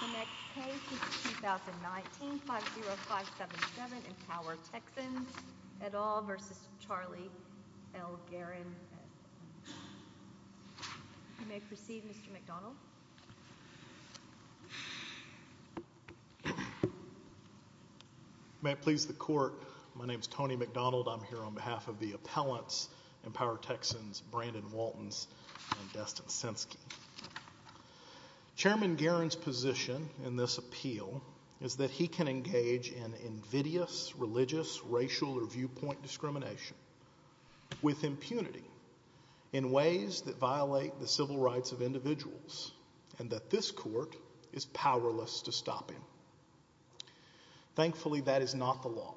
The next case is 2019-50577, Empower Texans, et al. v. Charlie L. Guerin You may proceed, Mr. McDonald May it please the Court, my name is Tony McDonald. I'm here on behalf of the appellants, Empower Texans, Brandon Waltons and Destin Senske Chairman Guerin's position in this appeal is that he can engage in invidious religious, racial or viewpoint discrimination with impunity in ways that violate the civil rights of individuals and that this court is powerless to stop him Thankfully, that is not the law.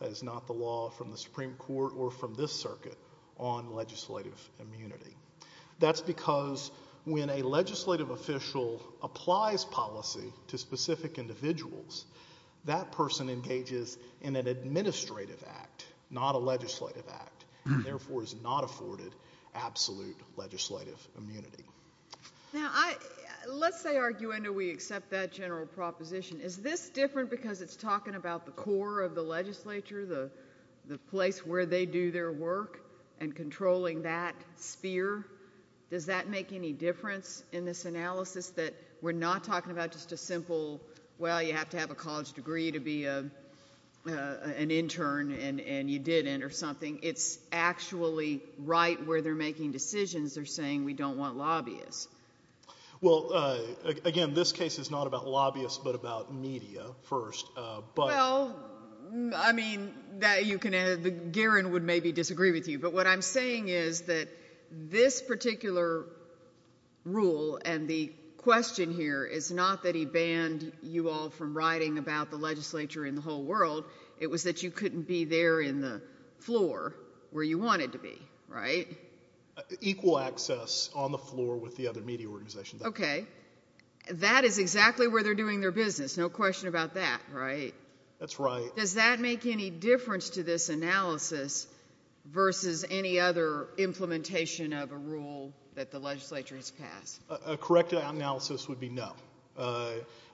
That is not the law from the Supreme Court or from this circuit on legislative immunity That's because when a legislative official applies policy to specific individuals, that person engages in an administrative act, not a legislative act and therefore is not afforded absolute legislative immunity Now, let's say we accept that general proposition. Is this different because it's talking about the core of the legislature, the place where they do their work and controlling that sphere? Does that make any difference in this analysis that we're not talking about just a simple well, you have to have a college degree to be an intern and you didn't or something It's actually right where they're making decisions. They're saying we don't want lobbyists Well, again, this case is not about lobbyists but about media first Well, I mean, that you can, Guerin would maybe disagree with you, but what I'm saying is that this particular rule and the question here is not that he banned you all from writing about the legislature in the whole world It was that you couldn't be there in the floor where you wanted to be, right? Equal access on the floor with the other media organizations Okay. That is exactly where they're doing their business. No question about that, right? That's right Does that make any difference to this analysis versus any other implementation of a rule that the legislature has passed? A correct analysis would be no,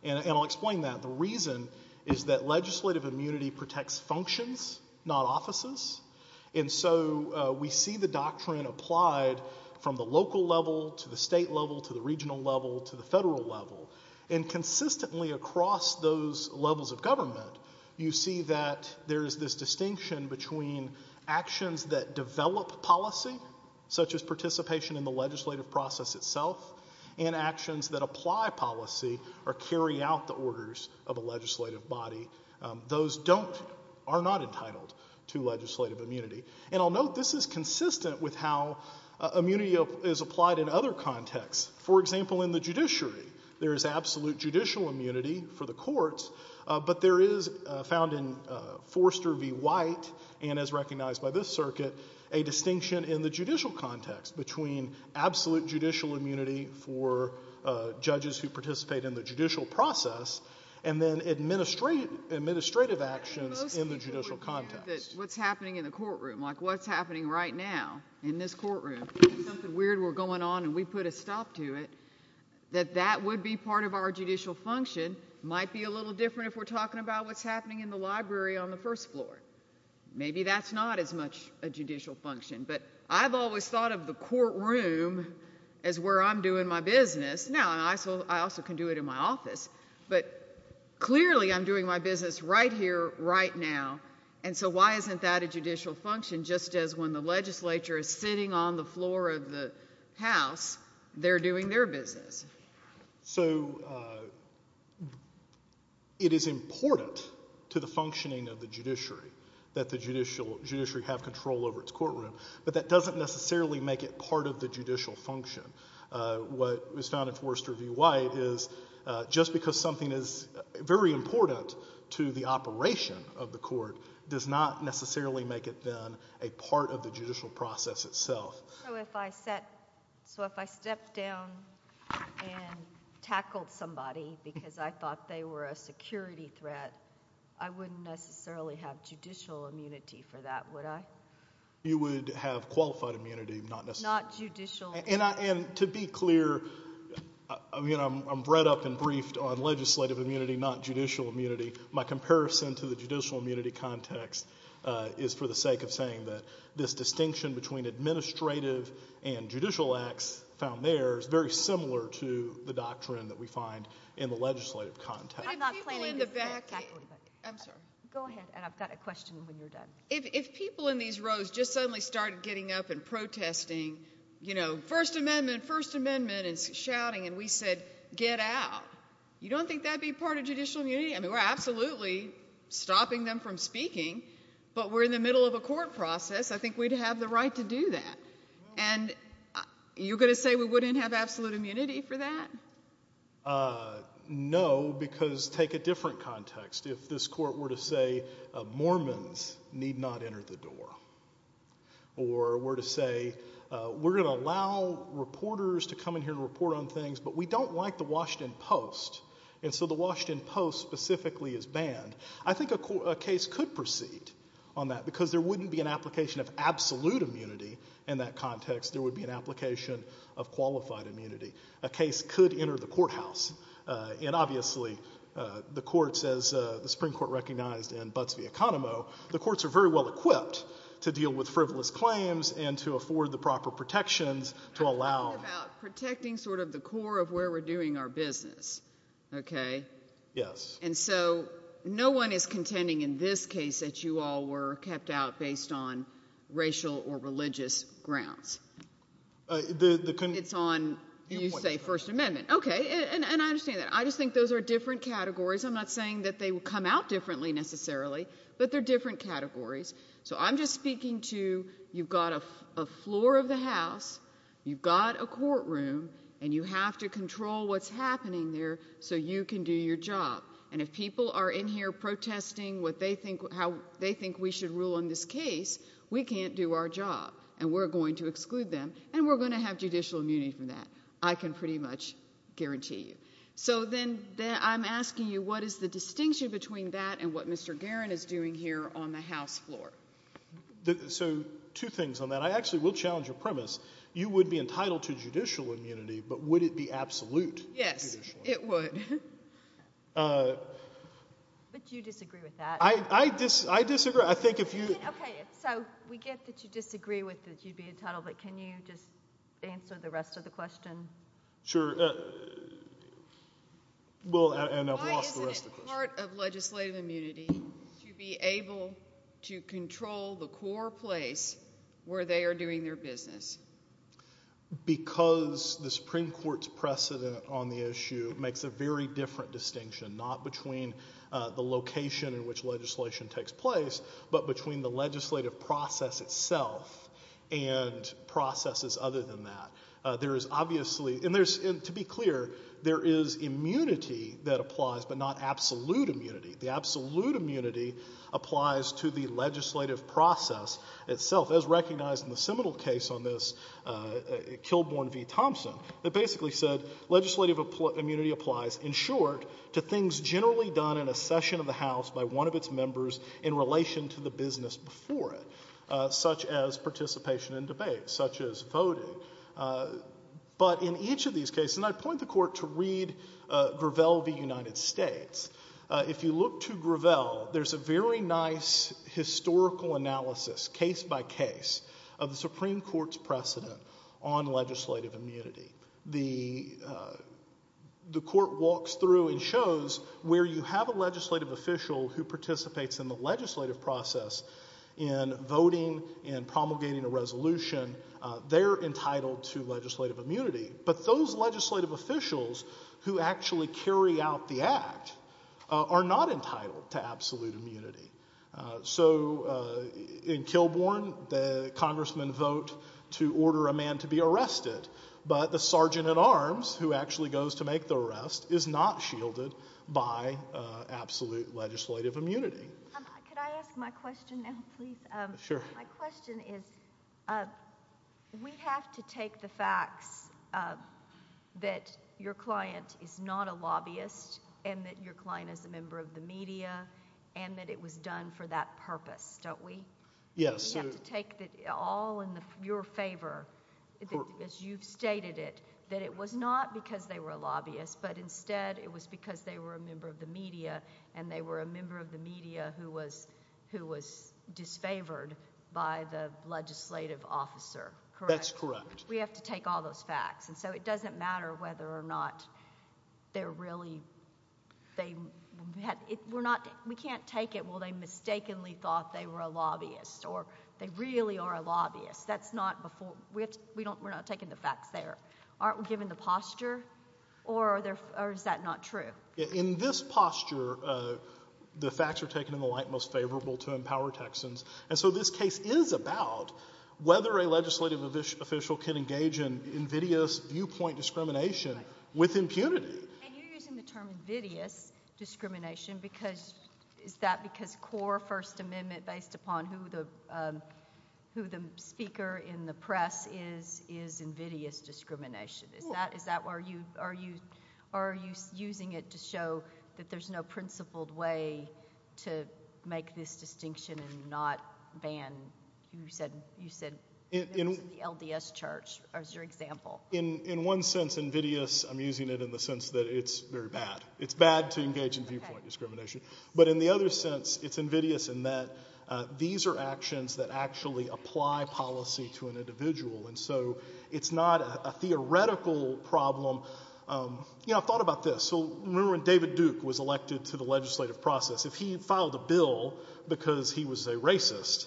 and I'll explain that The reason is that legislative immunity protects functions, not offices And so we see the doctrine applied from the local level to the state level to the regional level to the federal level And consistently across those levels of government, you see that there is this distinction between actions that develop policy such as participation in the legislative process itself and actions that apply policy or carry out the orders of a legislative body Those are not entitled to legislative immunity And I'll note this is consistent with how immunity is applied in other contexts For example, in the judiciary, there is absolute judicial immunity for the courts But there is, found in Forster v. White and as recognized by this circuit, a distinction in the judicial context between absolute judicial immunity for judges who participate in the judicial process and then administrative actions in the judicial context What's happening in the courtroom, like what's happening right now in this courtroom Something weird were going on and we put a stop to it That that would be part of our judicial function might be a little different if we're talking about what's happening in the library on the first floor Maybe that's not as much a judicial function But I've always thought of the courtroom as where I'm doing my business Now, I also can do it in my office But clearly I'm doing my business right here, right now And so why isn't that a judicial function? Just as when the legislature is sitting on the floor of the house, they're doing their business So, it is important to the functioning of the judiciary that the judiciary have control over its courtroom But that doesn't necessarily make it part of the judicial function What was found in Forster v. White is just because something is very important to the operation of the court Does not necessarily make it then a part of the judicial process itself So, if I stepped down and tackled somebody because I thought they were a security threat I wouldn't necessarily have judicial immunity for that, would I? You would have qualified immunity, not necessarily Not judicial And to be clear, I'm read up and briefed on legislative immunity, not judicial immunity My comparison to the judicial immunity context is for the sake of saying that this distinction between administrative and judicial acts found there is very similar to the doctrine that we find in the legislative context I'm not planning to tackle anybody I'm sorry Go ahead, and I've got a question when you're done If people in these rows just suddenly started getting up and protesting, you know, First Amendment, First Amendment, and shouting And we said, get out You don't think that would be part of judicial immunity? I mean, we're absolutely stopping them from speaking, but we're in the middle of a court process I think we'd have the right to do that And you're going to say we wouldn't have absolute immunity for that? No, because take a different context If this court were to say Mormons need not enter the door Or were to say we're going to allow reporters to come in here and report on things, but we don't like the Washington Post And so the Washington Post specifically is banned I think a case could proceed on that because there wouldn't be an application of absolute immunity in that context There would be an application of qualified immunity A case could enter the courthouse And obviously the courts, as the Supreme Court recognized in Butts v. Economo The courts are very well equipped to deal with frivolous claims and to afford the proper protections to allow I'm talking about protecting sort of the core of where we're doing our business, okay? Yes And so no one is contending in this case that you all were kept out based on racial or religious grounds It's on, you say, First Amendment Okay, and I understand that I just think those are different categories I'm not saying that they come out differently necessarily But they're different categories So I'm just speaking to, you've got a floor of the house You've got a courtroom And you have to control what's happening there so you can do your job And if people are in here protesting how they think we should rule on this case We can't do our job And we're going to exclude them And we're going to have judicial immunity from that I can pretty much guarantee you So then I'm asking you, what is the distinction between that and what Mr. Guerin is doing here on the House floor? So two things on that I actually will challenge your premise You would be entitled to judicial immunity But would it be absolute? Yes, it would But you disagree with that I disagree, I think if you Okay, so we get that you disagree with that you'd be entitled But can you just answer the rest of the question? Sure And I've lost the rest of the question Why isn't it part of legislative immunity to be able to control the core place where they are doing their business? Because the Supreme Court's precedent on the issue makes a very different distinction Not between the location in which legislation takes place But between the legislative process itself And processes other than that There is obviously And to be clear There is immunity that applies But not absolute immunity The absolute immunity applies to the legislative process itself As recognized in the Seminole case on this Kilbourne v. Thompson That basically said Legislative immunity applies, in short To things generally done in a session of the House by one of its members In relation to the business before it Such as participation in debates Such as voting But in each of these cases And I point the court to read Gravel v. United States If you look to Gravel There's a very nice historical analysis Case by case Of the Supreme Court's precedent On legislative immunity The The court walks through and shows Where you have a legislative official Who participates in the legislative process In voting In promulgating a resolution They're entitled to legislative immunity But those legislative officials Who actually carry out the act Are not entitled To absolute immunity So In Kilbourne The congressmen vote to order a man to be arrested But the sergeant at arms Who actually goes to make the arrest Is not shielded by Absolute legislative immunity Could I ask my question now, please? Sure My question is We have to take the facts That your client Is not a lobbyist And that your client is a member of the media And that it was done for that purpose Don't we? Yes We have to take it all in your favor As you've stated it That it was not because they were a lobbyist But instead it was because they were a member of the media And they were a member of the media Who was Disfavored by the legislative officer That's correct We have to take all those facts And so it doesn't matter whether or not They're really They We can't take it Well they mistakenly thought they were a lobbyist Or they really are a lobbyist That's not We're not taking the facts there Aren't we given the posture Or is that not true? In this posture The facts are taken in the light Most favorable to empower Texans And so this case is about Whether a legislative official Can engage in invidious viewpoint Discrimination with impunity And you're using the term invidious Discrimination because Is that because core first amendment Based upon who the Who the speaker in the press Is invidious discrimination Is that Are you using it to show That there's no principled way To make this distinction And not ban You said The LDS church as your example In one sense invidious I'm using it in the sense that it's very bad It's bad to engage in viewpoint discrimination But in the other sense It's invidious in that These are actions that actually apply Policy to an individual And so it's not a theoretical Problem You know I've thought about this Remember when David Duke was elected to the legislative process If he filed a bill Because he was a racist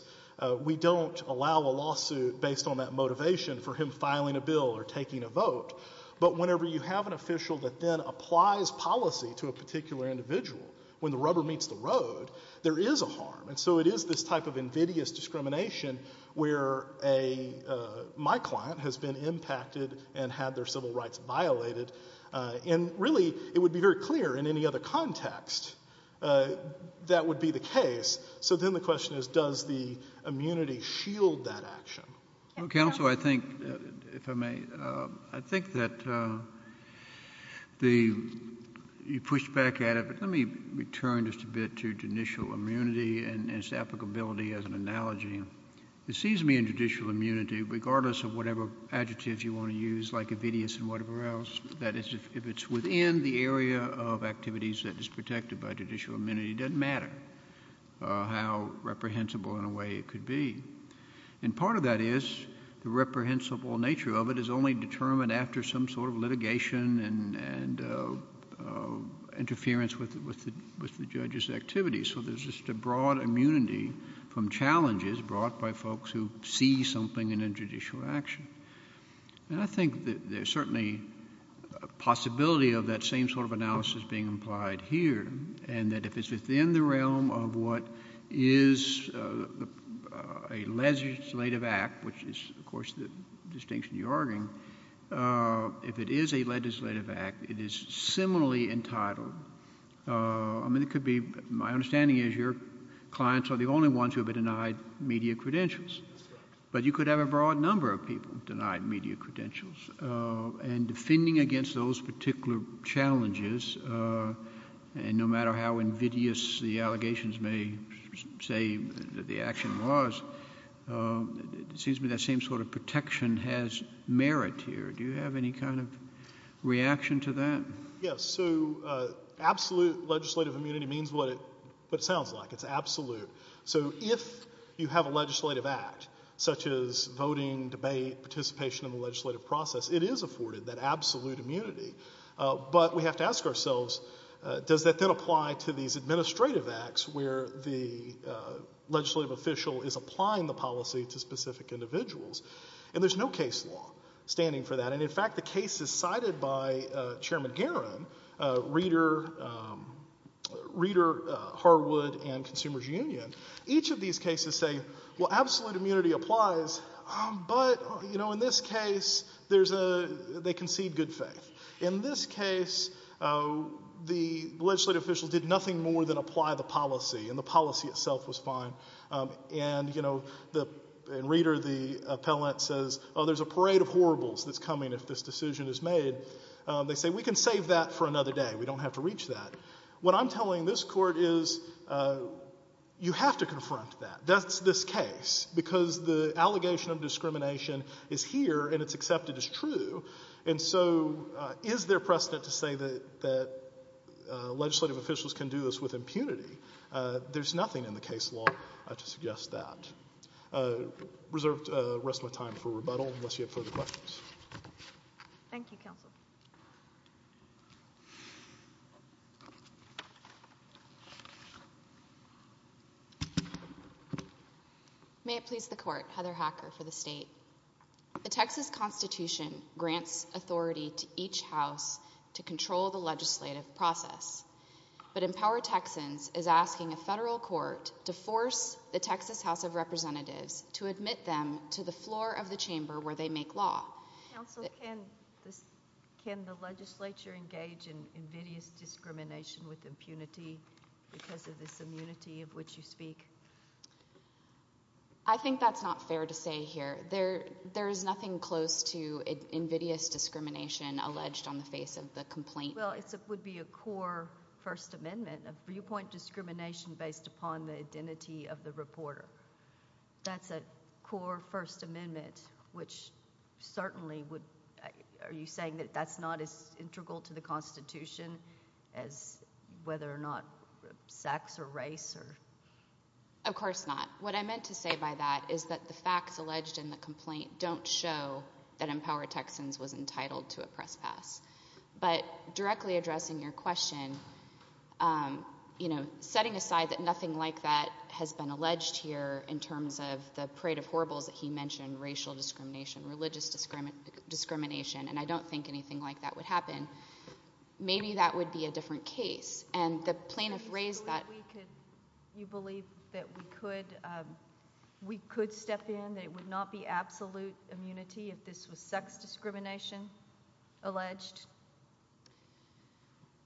We don't allow a lawsuit Based on that motivation for him filing a bill Or taking a vote But whenever you have an official that then applies Policy to a particular individual When the rubber meets the road There is a harm And so it is this type of invidious discrimination Where a My client has been impacted And had their civil rights violated And really it would be very clear In any other context That would be the case So then the question is Does the immunity shield that action Counselor I think If I may I think that The You pushed back at it Let me return just a bit to initial immunity And its applicability as an analogy It seems to me in judicial Immunity regardless of whatever Adjectives you want to use like invidious And whatever else If it's within the area of activities That is protected by judicial immunity It doesn't matter How reprehensible in a way it could be And part of that is The reprehensible nature of it Is only determined after some sort of litigation And Interference with The judge's activities So there's just a broad immunity From challenges brought by folks who See something in a judicial action And I think that There's certainly a possibility Of that same sort of analysis being Implied here and that if it's Within the realm of what Is A legislative act Which is of course the distinction you're arguing If it is A legislative act it is Similarly entitled I mean it could be My understanding is your clients are the only ones Who have been denied media credentials But you could have a broad number of people Denied media credentials And defending against those particular Challenges And no matter how invidious The allegations may Say that the action was It seems to me That same sort of protection has Merit here. Do you have any kind of Yes, so Absolute legislative immunity means what it Sounds like. It's absolute So if you have a legislative act Such as voting, debate, Participation in the legislative process It is afforded that absolute immunity But we have to ask ourselves Does that then apply to these Administrative acts where the Legislative official is Applying the policy to specific individuals And there's no case law Standing for that and in fact the case Is cited by Chairman Garron, Reeder Harwood And Consumers Union Each of these cases say well absolute Immunity applies but You know in this case They concede good faith In this case The legislative official did nothing More than apply the policy and the policy Itself was fine and You know Reeder The appellant says oh there's a parade Of horribles that's coming if this decision Is made. They say we can save that For another day. We don't have to reach that What I'm telling this court is You have to confront That. That's this case because The allegation of discrimination Is here and it's accepted as true And so is There precedent to say that Legislative officials can do this With impunity. There's nothing In the case law to suggest that Reserved Rest of my time for rebuttal Unless you have further questions Thank you counsel May it please the court Heather Hacker for the state The Texas Constitution Grants authority to each house To control the legislative Process but Empower Texans is asking a federal court To force the Texas House of Representatives to admit them To the floor of the chamber where they make Law. Counsel can Can the legislature engage In invidious discrimination With impunity because of This immunity of which you speak I think That's not fair to say here There is nothing close to Invidious discrimination alleged On the face of the complaint. Well it would be A core first amendment Of viewpoint discrimination based upon The identity of the reporter That's a core First amendment which Certainly would Are you saying that that's not as integral to the Constitution as Whether or not sex Or race or Of course not. What I meant to say by that Is that the facts alleged in the complaint Don't show that empower Texans was entitled to a press pass But directly addressing Your question You know Setting aside that nothing like that Has been alleged here in terms of The parade of horribles that he mentioned Racial discrimination, religious Discrimination and I don't think anything Like that would happen Maybe that would be a different case And the plaintiff raised that You believe that we could We could step in That it would not be absolute immunity If this was sex discrimination Alleged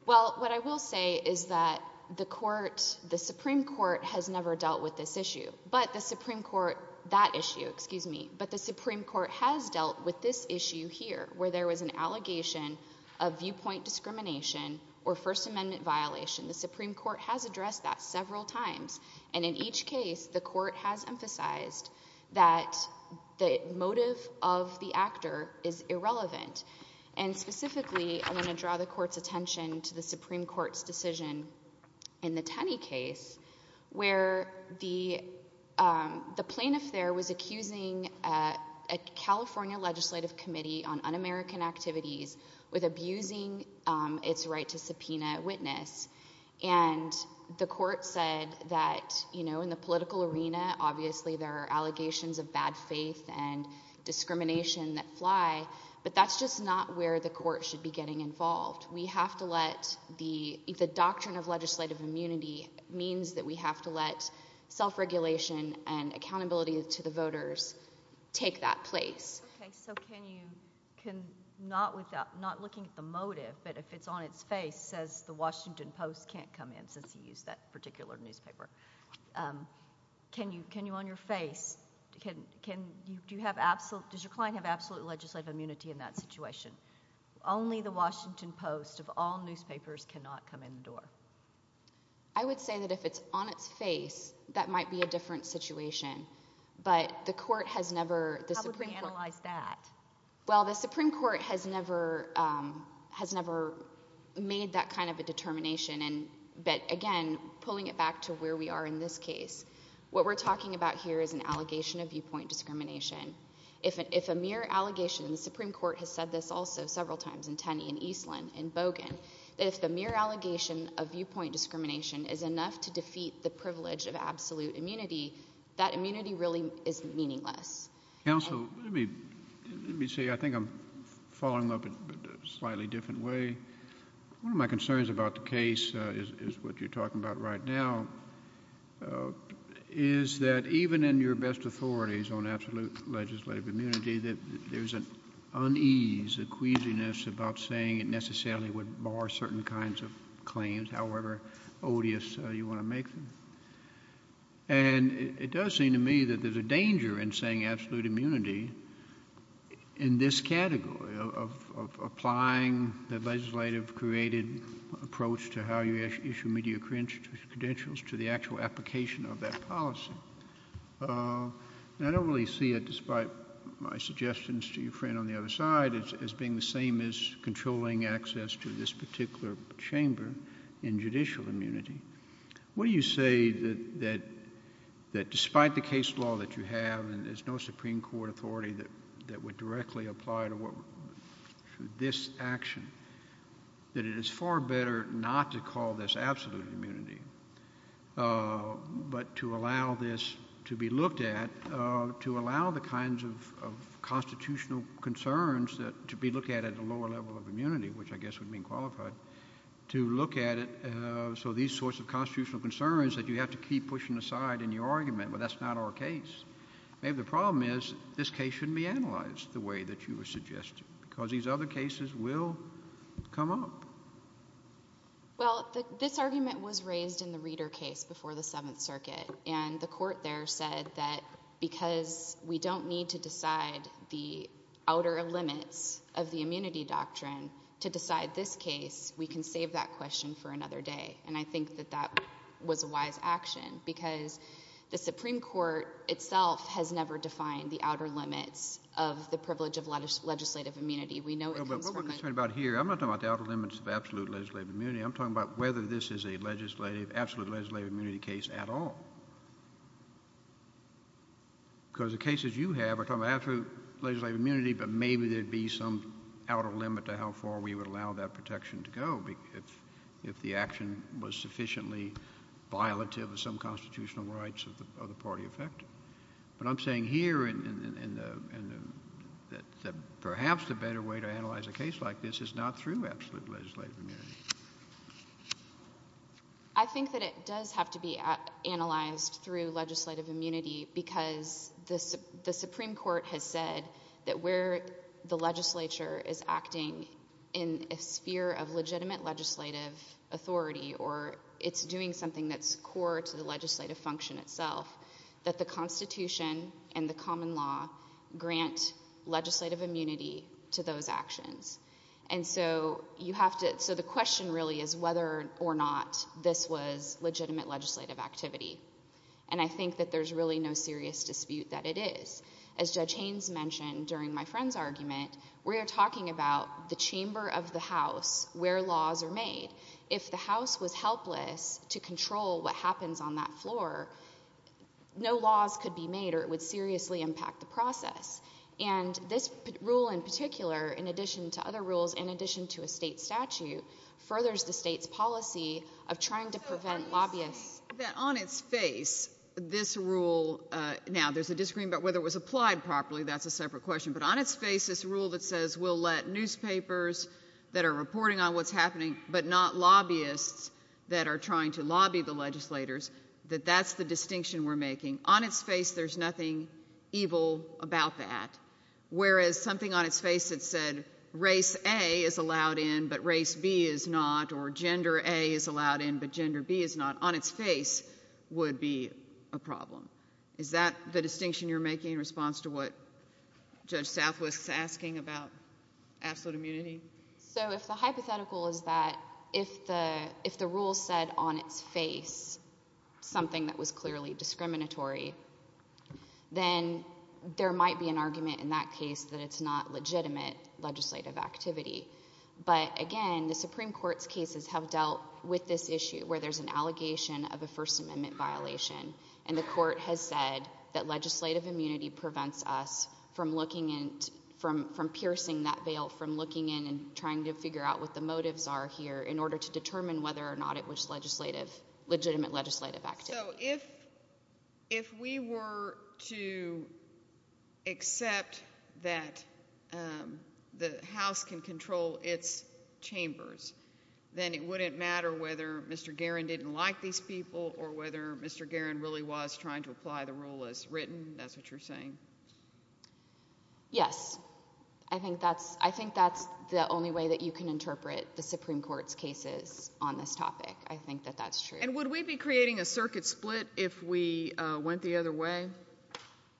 Well what I will Say is that the court The supreme court has never dealt With this issue but the supreme court That issue, excuse me, but the supreme Court has dealt with this issue Here where there was an allegation Of viewpoint discrimination Or first amendment violation. The supreme Court has addressed that several times And in each case the court Has emphasized that The motive of The actor is irrelevant And specifically I want to draw The court's attention to the supreme Court's decision in the Tenney case where The plaintiff There was accusing A California legislative committee On un-American activities With abusing its right To subpoena a witness And the court said That you know in the political arena Obviously there are allegations of Bad faith and discrimination That fly but that's just not Where the court should be getting involved We have to let the Doctrine of legislative immunity Means that we have to let self Regulation and accountability To the voters take that Place. Okay so can you Can not without not looking At the motive but if it's on its face Says the Washington Post can't come in Since you used that particular newspaper Can you Can you on your face Can you do you have absolute Does your client have absolute legislative immunity In that situation only the Washington Post of all newspapers Can not come in the door. I would say that if it's on its face That might be a different situation But the court has Never analyzed that Well the Supreme Court has never Has never Made that kind of a determination And but again pulling it Back to where we are in this case What we're talking about here is an Allegation of viewpoint discrimination If a mere allegation the Supreme Court has said this also several times In Tenney and Eastland and Bogan If the mere allegation of viewpoint Discrimination is enough to defeat the Privilege of absolute immunity That immunity really is meaningless Counsel let me Let me say I think I'm following Up in a slightly different way One of my concerns about the case Is what you're talking about right Now Is that even in your best Authorities on absolute legislative Immunity that there's an Unease a queasiness about Saying it necessarily would bar certain Kinds of claims however Odious you want to make them And it does Seem to me that there's a danger in saying Absolute immunity In this category of Applying the legislative Created approach to How you issue media credentials To the actual application of that Policy And I don't really see it despite My suggestions to your friend on the other side As being the same as controlling Access to this particular Chamber in judicial immunity What do you say That despite The case law that you have and there's no Supreme Court authority that would Directly apply to This action That it is far better Not to call this absolute immunity But to Allow this to be looked at To allow the kinds of Constitutional concerns That to be looked at at a lower level of Immunity which I guess would mean qualified To look at it So these sorts of constitutional concerns That you have to keep pushing aside in your argument Well that's not our case Maybe the problem is this case shouldn't be analyzed The way that you were suggesting Because these other cases will Come up Well this argument was Raised in the reader case before the 7th Circuit and the court there said That because we don't Need to decide the Outer limits of the immunity Doctrine to decide this case We can save that question for another Day and I think that that was A wise action because The supreme court itself has Never defined the outer limits Of the privilege of legislative Immunity we know it comes from the I'm not talking about the outer limits of absolute legislative Immunity I'm talking about whether this is a Legislative absolute legislative immunity case At all Because the cases You have are talking about absolute legislative immunity But maybe there would be some Outer limit to how far we would allow that Protection to go if The action was sufficiently Violative of some constitutional rights Of the party effect But I'm saying here That Perhaps the better way to analyze a case Like this is not through absolute legislative Immunity I think that it does have to Be analyzed through legislative Immunity because The supreme court has said That where the legislature Is acting in a Sphere of legitimate legislative Authority or it's doing Something that's core to the legislative Function itself that the constitution And the common law Grant legislative Immunity to those actions And so you have to The question really is whether or not This was legitimate legislative Activity and I think That there's really no serious dispute that it Is as judge Haynes mentioned During my friend's argument we are Talking about the chamber of the House where laws are made If the house was helpless to The chamber no laws could be Made or it would seriously impact the Process and this rule In particular in addition to other rules In addition to a state statute Furthers the state's policy Of trying to prevent lobbyists On its face this Rule now there's a disagreement About whether it was applied properly that's a separate Question but on its face this rule that says We'll let newspapers that are Reporting on what's happening but not Lobbyists that are trying to Prevent this from happening That's the distinction we're making on its Face there's nothing evil About that whereas Something on its face that said race A is allowed in but race B Is not or gender A is allowed in but gender B Is not on its face would be A problem is that the Distinction you're making in response to what Judge south was asking About absolute immunity So if the hypothetical is that If the rule said on Its face something That was clearly discriminatory Then There might be an argument in that case that It's not legitimate legislative Activity but again The supreme court's cases have dealt With this issue where there's an allegation Of a first amendment violation and The court has said that legislative Immunity prevents us from Looking in from piercing That veil from looking in and trying to Identify what the motives are here in order To determine whether or not it was Legislative legitimate legislative Activity if We were to Accept That The house can control Its chambers then it wouldn't Matter whether mr. Guerin didn't like these people or whether mr. Guerin really was trying to apply the rule As written that's what you're saying Yes I think that's i think that's The only way that you can interpret the Supreme court's cases on this topic I think that that's true and would we be Creating a circuit split if we Went the other way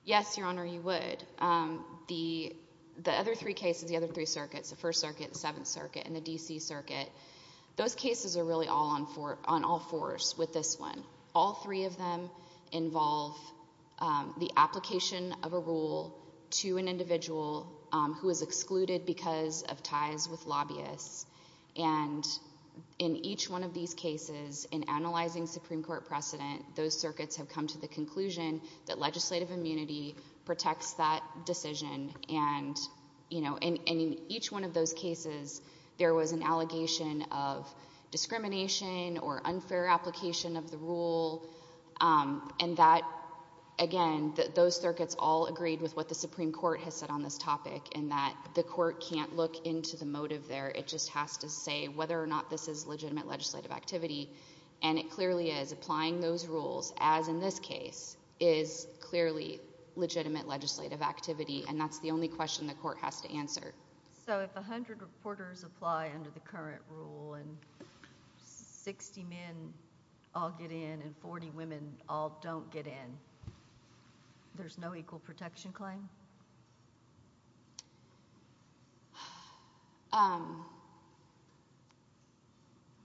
Yes your honor you would The the other three cases the Other three circuits the first circuit seventh circuit And the dc circuit those Cases are really all on for on all Fours with this one all three of Them involve The application of a rule To an individual who is Excluded because of ties with Lobbyists and In each one of these cases In analyzing supreme court precedent Those circuits have come to the conclusion That legislative immunity protects That decision and You know and in each One of those cases there was an Allegation of discrimination Or unfair application Of the rule And that again Those circuits all agreed with what the Supreme court has said on this topic and that The court can't look into the motive There it just has to say whether or not This is legitimate legislative activity And it clearly is applying those Rules as in this case Is clearly legitimate Legislative activity and that's the only Question the court has to answer so If a hundred reporters apply under The current rule and 60 men I'll get in and 40 women all Don't get in There's no equal protection claim I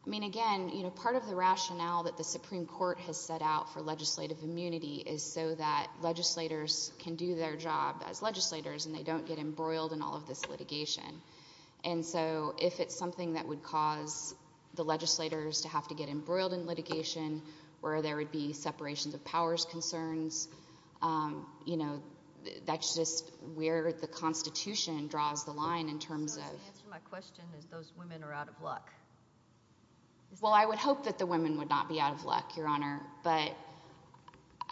mean again you know part of the Rationale that the supreme court has set Out for legislative immunity is so That legislators can do Their job as legislators and they don't Get embroiled in all of this litigation And so if it's something That would cause the legislators To have to get embroiled in litigation Where there would be separations of Powers concerns You know that's just Where the constitution draws The line in terms of My question is those women are out of luck Well I would hope that the Women would not be out of luck your honor But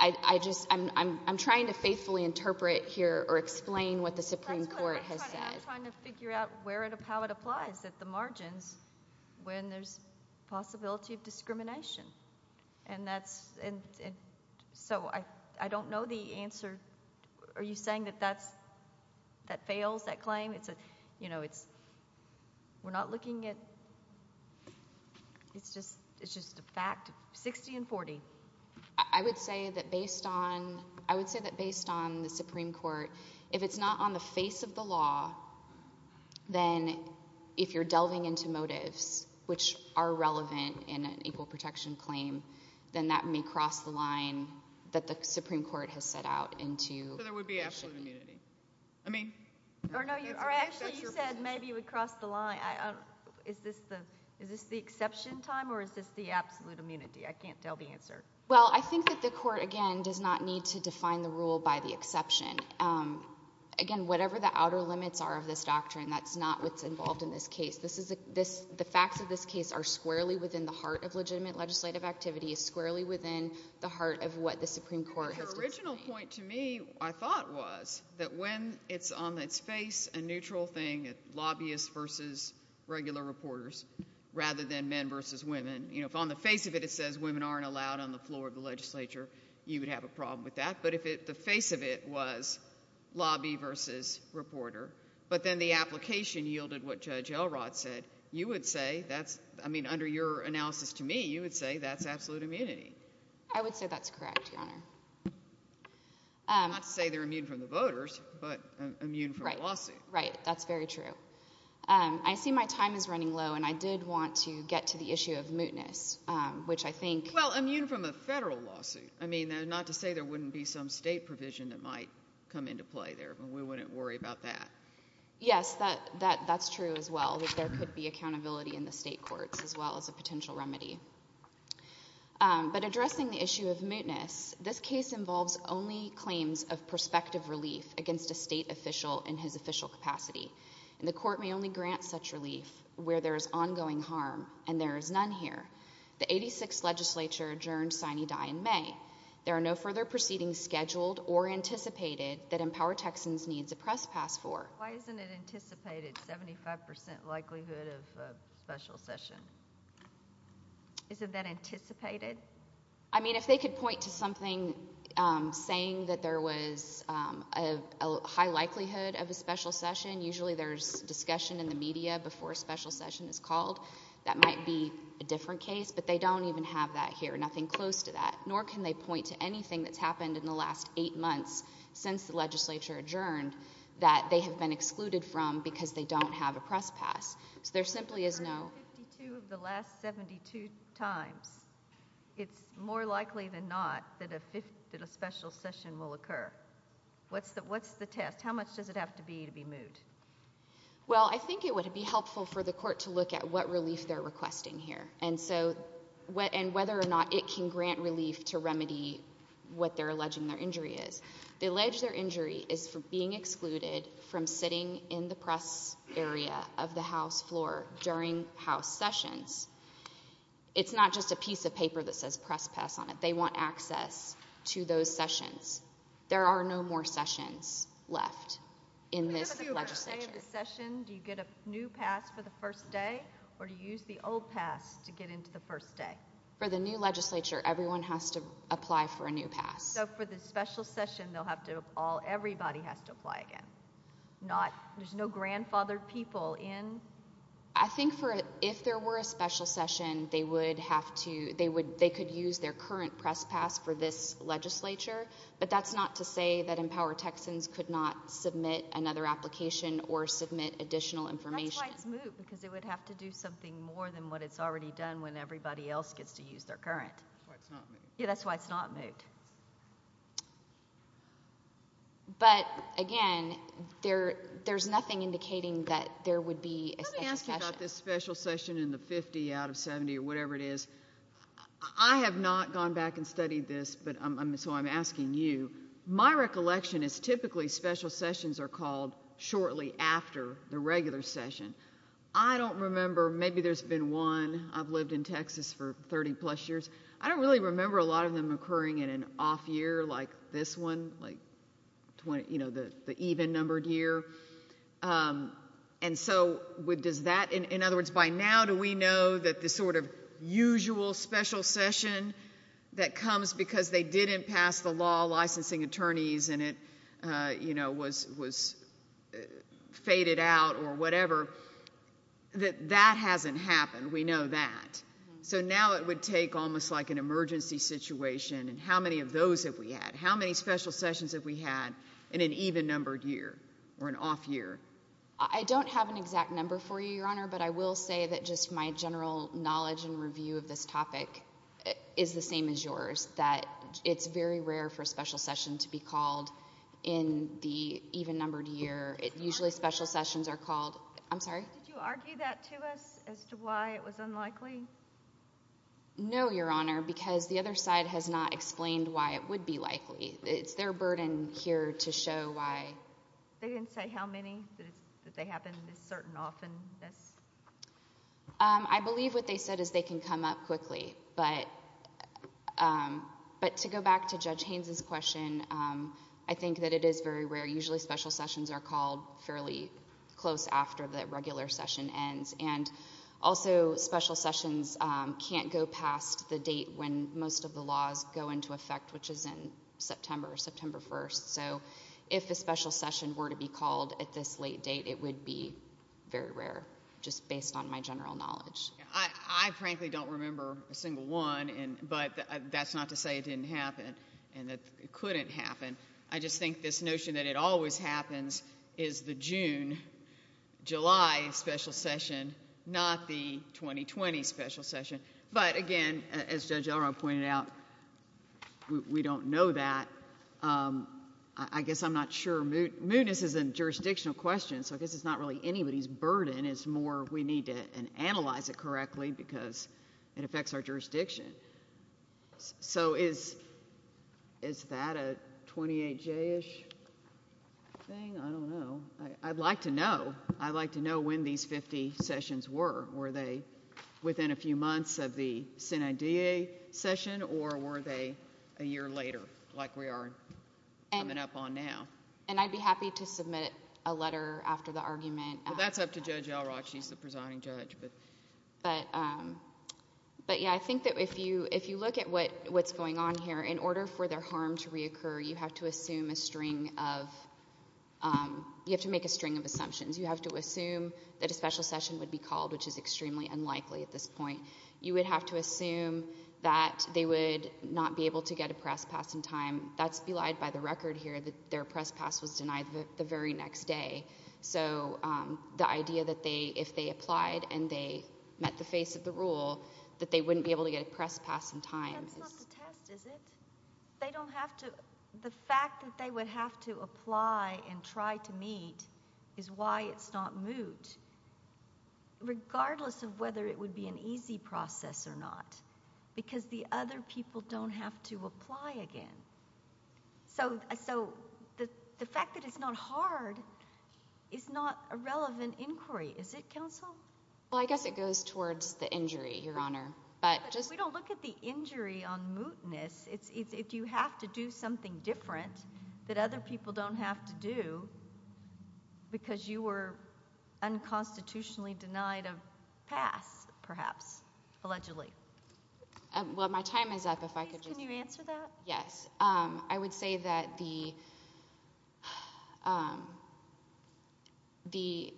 I just I'm trying to faithfully interpret Here or explain what the supreme Court has said I'm trying to figure out how it applies at the margins When there's Possibility of discrimination And that's So I don't know the answer Are you saying that that's That fails that claim You know it's We're not looking at It's just A fact 60 and 40 I would say that based on I would say that based on the supreme Court if it's not on the face Of the law Then if you're delving into Motives which are relevant In an equal protection claim Then that may cross the line That the supreme court has set out Into I mean You said maybe it would cross the line Is this the Is this the exception time or is this the Absolute immunity I can't tell the answer Well I think that the court again does not Need to define the rule by the exception Again whatever the Outer limits are of this doctrine that's Not what's involved in this case The facts of this case are squarely Within the heart of legitimate legislative activity Is squarely within the heart of what The supreme court has to say Your original point to me I thought was That when it's on its face A neutral thing lobbyists versus Regular reporters Rather than men versus women If on the face of it it says women aren't allowed On the floor of the legislature you would have a problem With that but if the face of it was Lobby versus Reporter but then the application Yielded what judge Elrod said You would say that's I mean under your Analysis to me you would say that's absolute Immunity I would say that's correct Your honor Not to say they're immune from the voters But immune from a lawsuit Right that's very true I see my time is running low and I did want To get to the issue of mootness Which I think well immune from a Federal lawsuit I mean not to say there Wouldn't be some state provision that might Come into play there but we wouldn't worry About that yes that That's true as well that there could be Accountability in the state courts as well as a Potential remedy But addressing the issue of mootness This case involves only Claims of prospective relief against A state official in his official capacity And the court may only grant such Relief where there is ongoing harm And there is none here The 86 legislature adjourned sine die In may there are no further Proceedings scheduled or anticipated That empower Texans needs a press Pass for why isn't it anticipated 75% likelihood of A special session Isn't that anticipated I mean if they could point to Something saying that There was a High likelihood of a special session Usually there's discussion in the media Before a special session is called That might be a different case but they Don't even have that here nothing close to That nor can they point to anything that's Happened in the last eight months Since the legislature adjourned That they have been excluded from because They don't have a press pass so there Simply is no The last 72 times It's more likely than not That a special session Will occur what's that what's The test how much does it have to be to be moot Well I think it would Be helpful for the court to look at what Relief they're requesting here and so What and whether or not it can grant relief To remedy what they're alleging Their injury is the alleged their injury Is for being excluded from Sitting in the press area Of the house floor during House sessions It's not just a piece of paper that says Press pass on it they want access To those sessions there Are no more sessions left In this Session do you get a new pass for The first day or do you use the old Pass to get into the first day For the new legislature everyone has to Apply for a new pass so for the Special session they'll have to all Everybody has to apply again Not there's no grandfathered people In I think for If there were a special session they Would have to they would they could Use their current press pass for this Legislature but that's not to Say that empower texans could not Submit another application or Submit additional information Because it would have to do something More than what it's already done when Everybody else gets to use their current Yeah that's why it's not moved But again There there's nothing indicating That there would be About this special session in the 50 Out of 70 or whatever it is I have not gone back and studied This but I'm so I'm asking you My recollection is typically Special sessions are called shortly After the regular session I don't remember maybe there's been One I've lived in texas for 30 plus years I don't really remember A lot of them occurring in an off year Like this one like 20 you know the the even numbered Year And so with does that in other Words by now do we know that the sort Of usual special session That comes because they Didn't pass the law licensing Attorneys and it you know Was was Faded out or whatever That that hasn't happened We know that so now It would take almost like an emergency Situation and how many of those that we Had how many special sessions that we had In an even numbered year Or an off year I don't Have an exact number for you your honor but I will Say that just my general knowledge And review of this topic Is the same as yours that It's very rare for a special session to Be called in the Even numbered year it usually special Sessions are called I'm sorry You argue that to us as to why It was unlikely No your honor because the other side Has not explained why it would be Likely it's their burden here To show why they didn't Say how many that they happen Certain often I believe what they said is They can come up quickly but But to Go back to judge Haynes's question I think that it is very rare usually Special sessions are called fairly Close after the regular session Ends and also Special sessions can't go Past the date when most of the laws Go into effect which is in September September 1st so If a special session were to be called At this late date it would be Very rare just based on my General knowledge I frankly Don't remember a single one and But that's not to say it didn't Happen and that it couldn't happen I just think this notion that it Always happens is the June July special Session not the 2020 special session but Again as judge Elrond pointed out We don't know that I guess I'm not sure moodness is a Jurisdictional question so I guess it's not really Anybody's burden it's more we need To analyze it correctly because It affects our jurisdiction So is Is that a 28J-ish Thing I don't know I'd like to Know I'd like to know when these 50 sessions were were they Within a few months of the Senate DA session or were They a year later like We are coming up on now And I'd be happy to submit A letter after the argument That's up to judge Elrod she's the presiding judge But But yeah I think that if you if you Look at what what's going on here in order For their harm to reoccur you have to assume A string of You have to make a string of assumptions You have to assume that a special session Would be called which is extremely unlikely At this point you would have to assume That they would not Be able to get a press pass in time That's belied by the record here that their Press pass was denied the very next day So the idea That they if they applied and they Met the face of the rule that They wouldn't be able to get a press pass in time Is not the test is it They don't have to the fact that They would have to apply and try To meet is why it's Not moot Regardless of whether it would be an Easy process or not Because the other people don't have To apply again So so the Fact that it's not hard Is not a relevant Inquiry is it counsel Well I guess it goes towards the injury Your honor but just we don't look at the Injury on mootness it's If you have to do something different That other people don't have to do Because you Were unconstitutionally Denied of pass Perhaps allegedly Well my time is up if I Could you answer that yes I would say that the The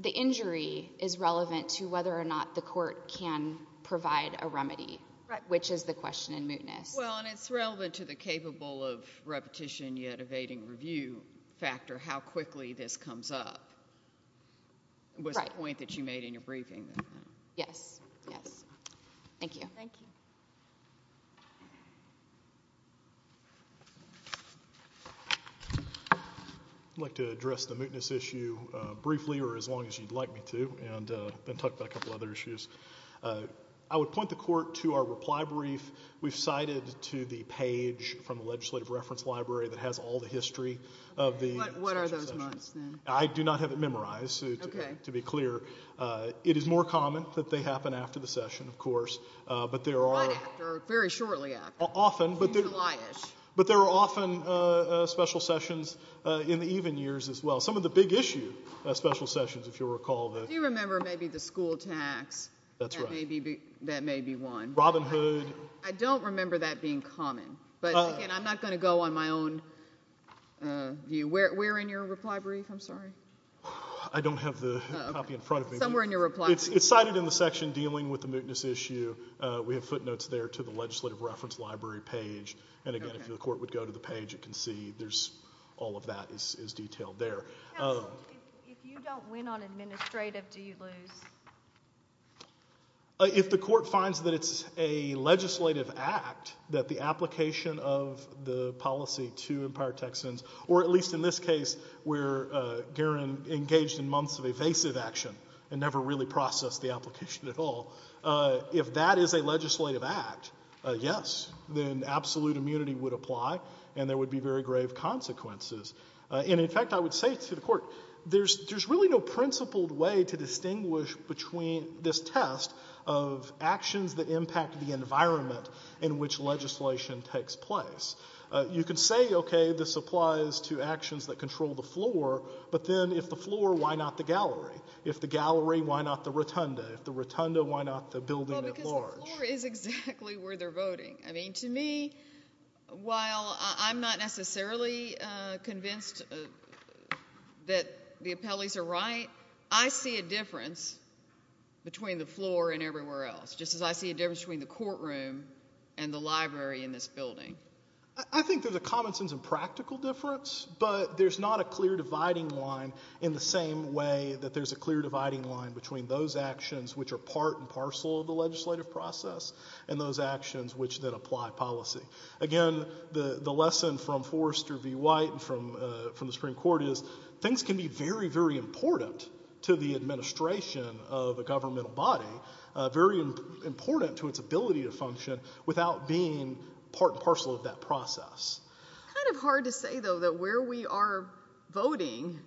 The injury Is relevant to whether or not the court Can provide a remedy Which is the question in mootness Well and it's relevant to the capable of Repetition yet evading review Factor how quickly This comes up Was the point that you made in your briefing Yes yes Thank you Thank you Thank you I'd like to address the mootness issue Briefly or as long as you'd like Me to and then talk about a couple other issues I would point the Court to our reply brief We've cited to the page From the legislative reference library that has all The history of the what are those I do not have it memorized Okay to be clear It is more common that they happen after The session of course but there are Very shortly after often But there are often Special sessions In the even years as well some of the big issue Special sessions if you recall Do you remember maybe the school tax That's right Robin hood I don't remember that being common but I'm not going to go on my own View where we're in your reply Brief I'm sorry I don't have the copy in front of me It's cited in the section dealing with the Mootness issue we have footnotes There to the legislative reference library page And again if the court would go to the page You can see there's all of that Is detailed there If you don't win on administrative Do you lose If the court finds that It's a legislative act That the application of The policy to empire texans Or at least in this case Where garen engaged in months Of evasive action and never really Processed the application at all If that is a legislative act Yes then absolute Immunity would apply and there would be Very grave consequences And in fact I would say to the court There's really no principled way To distinguish between this test Of actions that Impact the environment in which Legislation takes place You can say okay this applies To actions that control the floor But then if the floor why not the gallery If the gallery why not the rotunda If the rotunda why not the building at large Because the floor is exactly where They're voting I mean to me While I'm not necessarily Convinced That the appellees Are right I see a difference Between the floor And everywhere else just as I see a difference Between the courtroom and the library In this building I think there's a common sense and practical difference But there's not a clear dividing line In the same way that there's A clear dividing line between those actions Which are part and parcel of the legislative Process and those actions Which then apply policy Again the lesson from Forrester V. White from the Supreme Court Is things can be very very Important to the administration Of a governmental body Very important to its ability To function without being Part and parcel of that process It's kind of hard to say though That where we are voting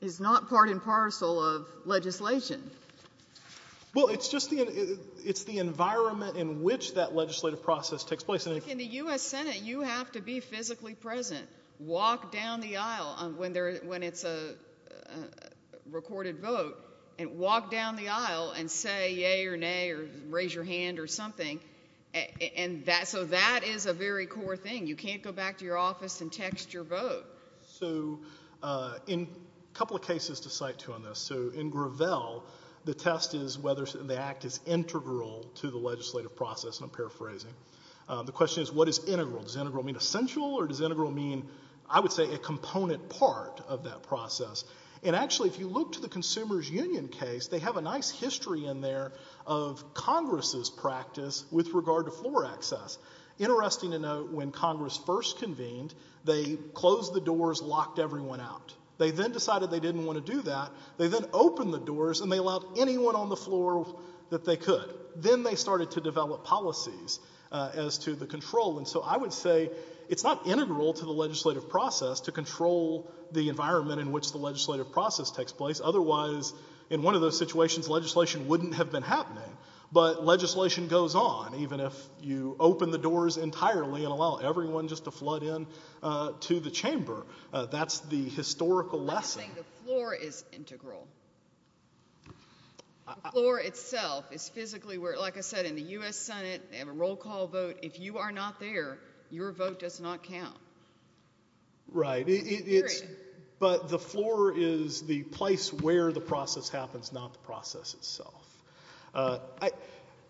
Is not part and parcel of Legislation Well it's just the Environment in which that legislative Process takes place In the U.S. Senate you have to be physically present Walk down the aisle When it's a Recorded vote Walk down the aisle and say Yay or nay or raise your hand or something So that Is a very core thing You can't go back to your office and text your vote So in A couple of cases to cite too on this So in Gravel the test is Whether the act is integral To the legislative process and I'm paraphrasing The question is what is integral Does integral mean essential or does integral mean I would say a component part Of that process and actually If you look to the Consumers Union case They have a nice history in there Of Congress's practice With regard to floor access Interesting to note when Congress first Convened they closed the doors Locked everyone out They then decided they didn't want to do that They then opened the doors and they allowed anyone on the floor That they could Then they started to develop policies As to the control and so I would say It's not integral to the legislative process To control the environment In which the legislative process takes place Otherwise in one of those situations Legislation wouldn't have been happening But legislation goes on Even if you open the doors entirely And allow everyone just to flood in To the chamber That's the historical lesson I think the floor is integral The floor itself is physically Like I said in the U.S. Senate They have a roll call vote If you are not there your vote does not count Right But the floor is the place Where the process happens That's not the process itself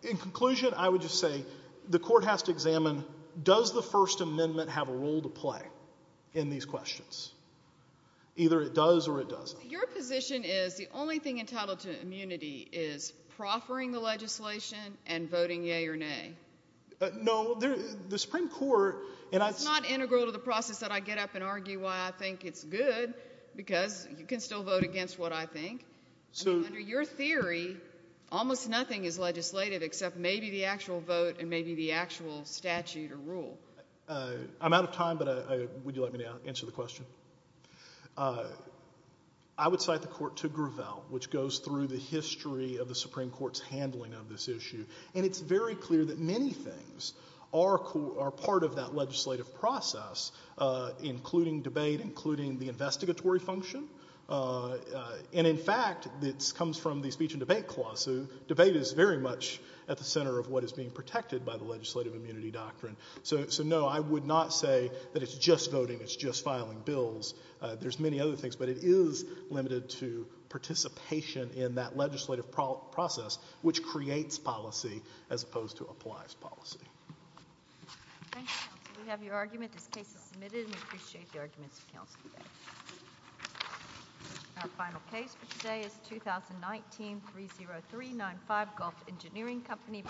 In conclusion I would just say the court has to examine Does the first amendment Have a role to play In these questions Either it does or it doesn't Your position is the only thing entitled to immunity Is proffering the legislation And voting yay or nay No the Supreme Court It's not integral to the process That I get up and argue why I think it's good Because you can still vote Against what I think Under your theory Almost nothing is legislative Except maybe the actual vote And maybe the actual statute or rule I'm out of time But would you like me to answer the question I would cite the court to Gravel Which goes through the history Of the Supreme Court's handling of this issue And it's very clear that many things Are part of that Legislative process Including debate Including the investigatory function And in fact It comes from the speech and debate clause So debate is very much At the center of what is being protected By the legislative immunity doctrine So no I would not say that it's just voting It's just filing bills There's many other things But it is limited to participation In that legislative process Which creates policy As opposed to applies policy Thank you counsel We have your argument This case is submitted And we appreciate the arguments of counsel Our final case for today Is 2019-30395 Golf Engineering Company Versus Dow Chemical Company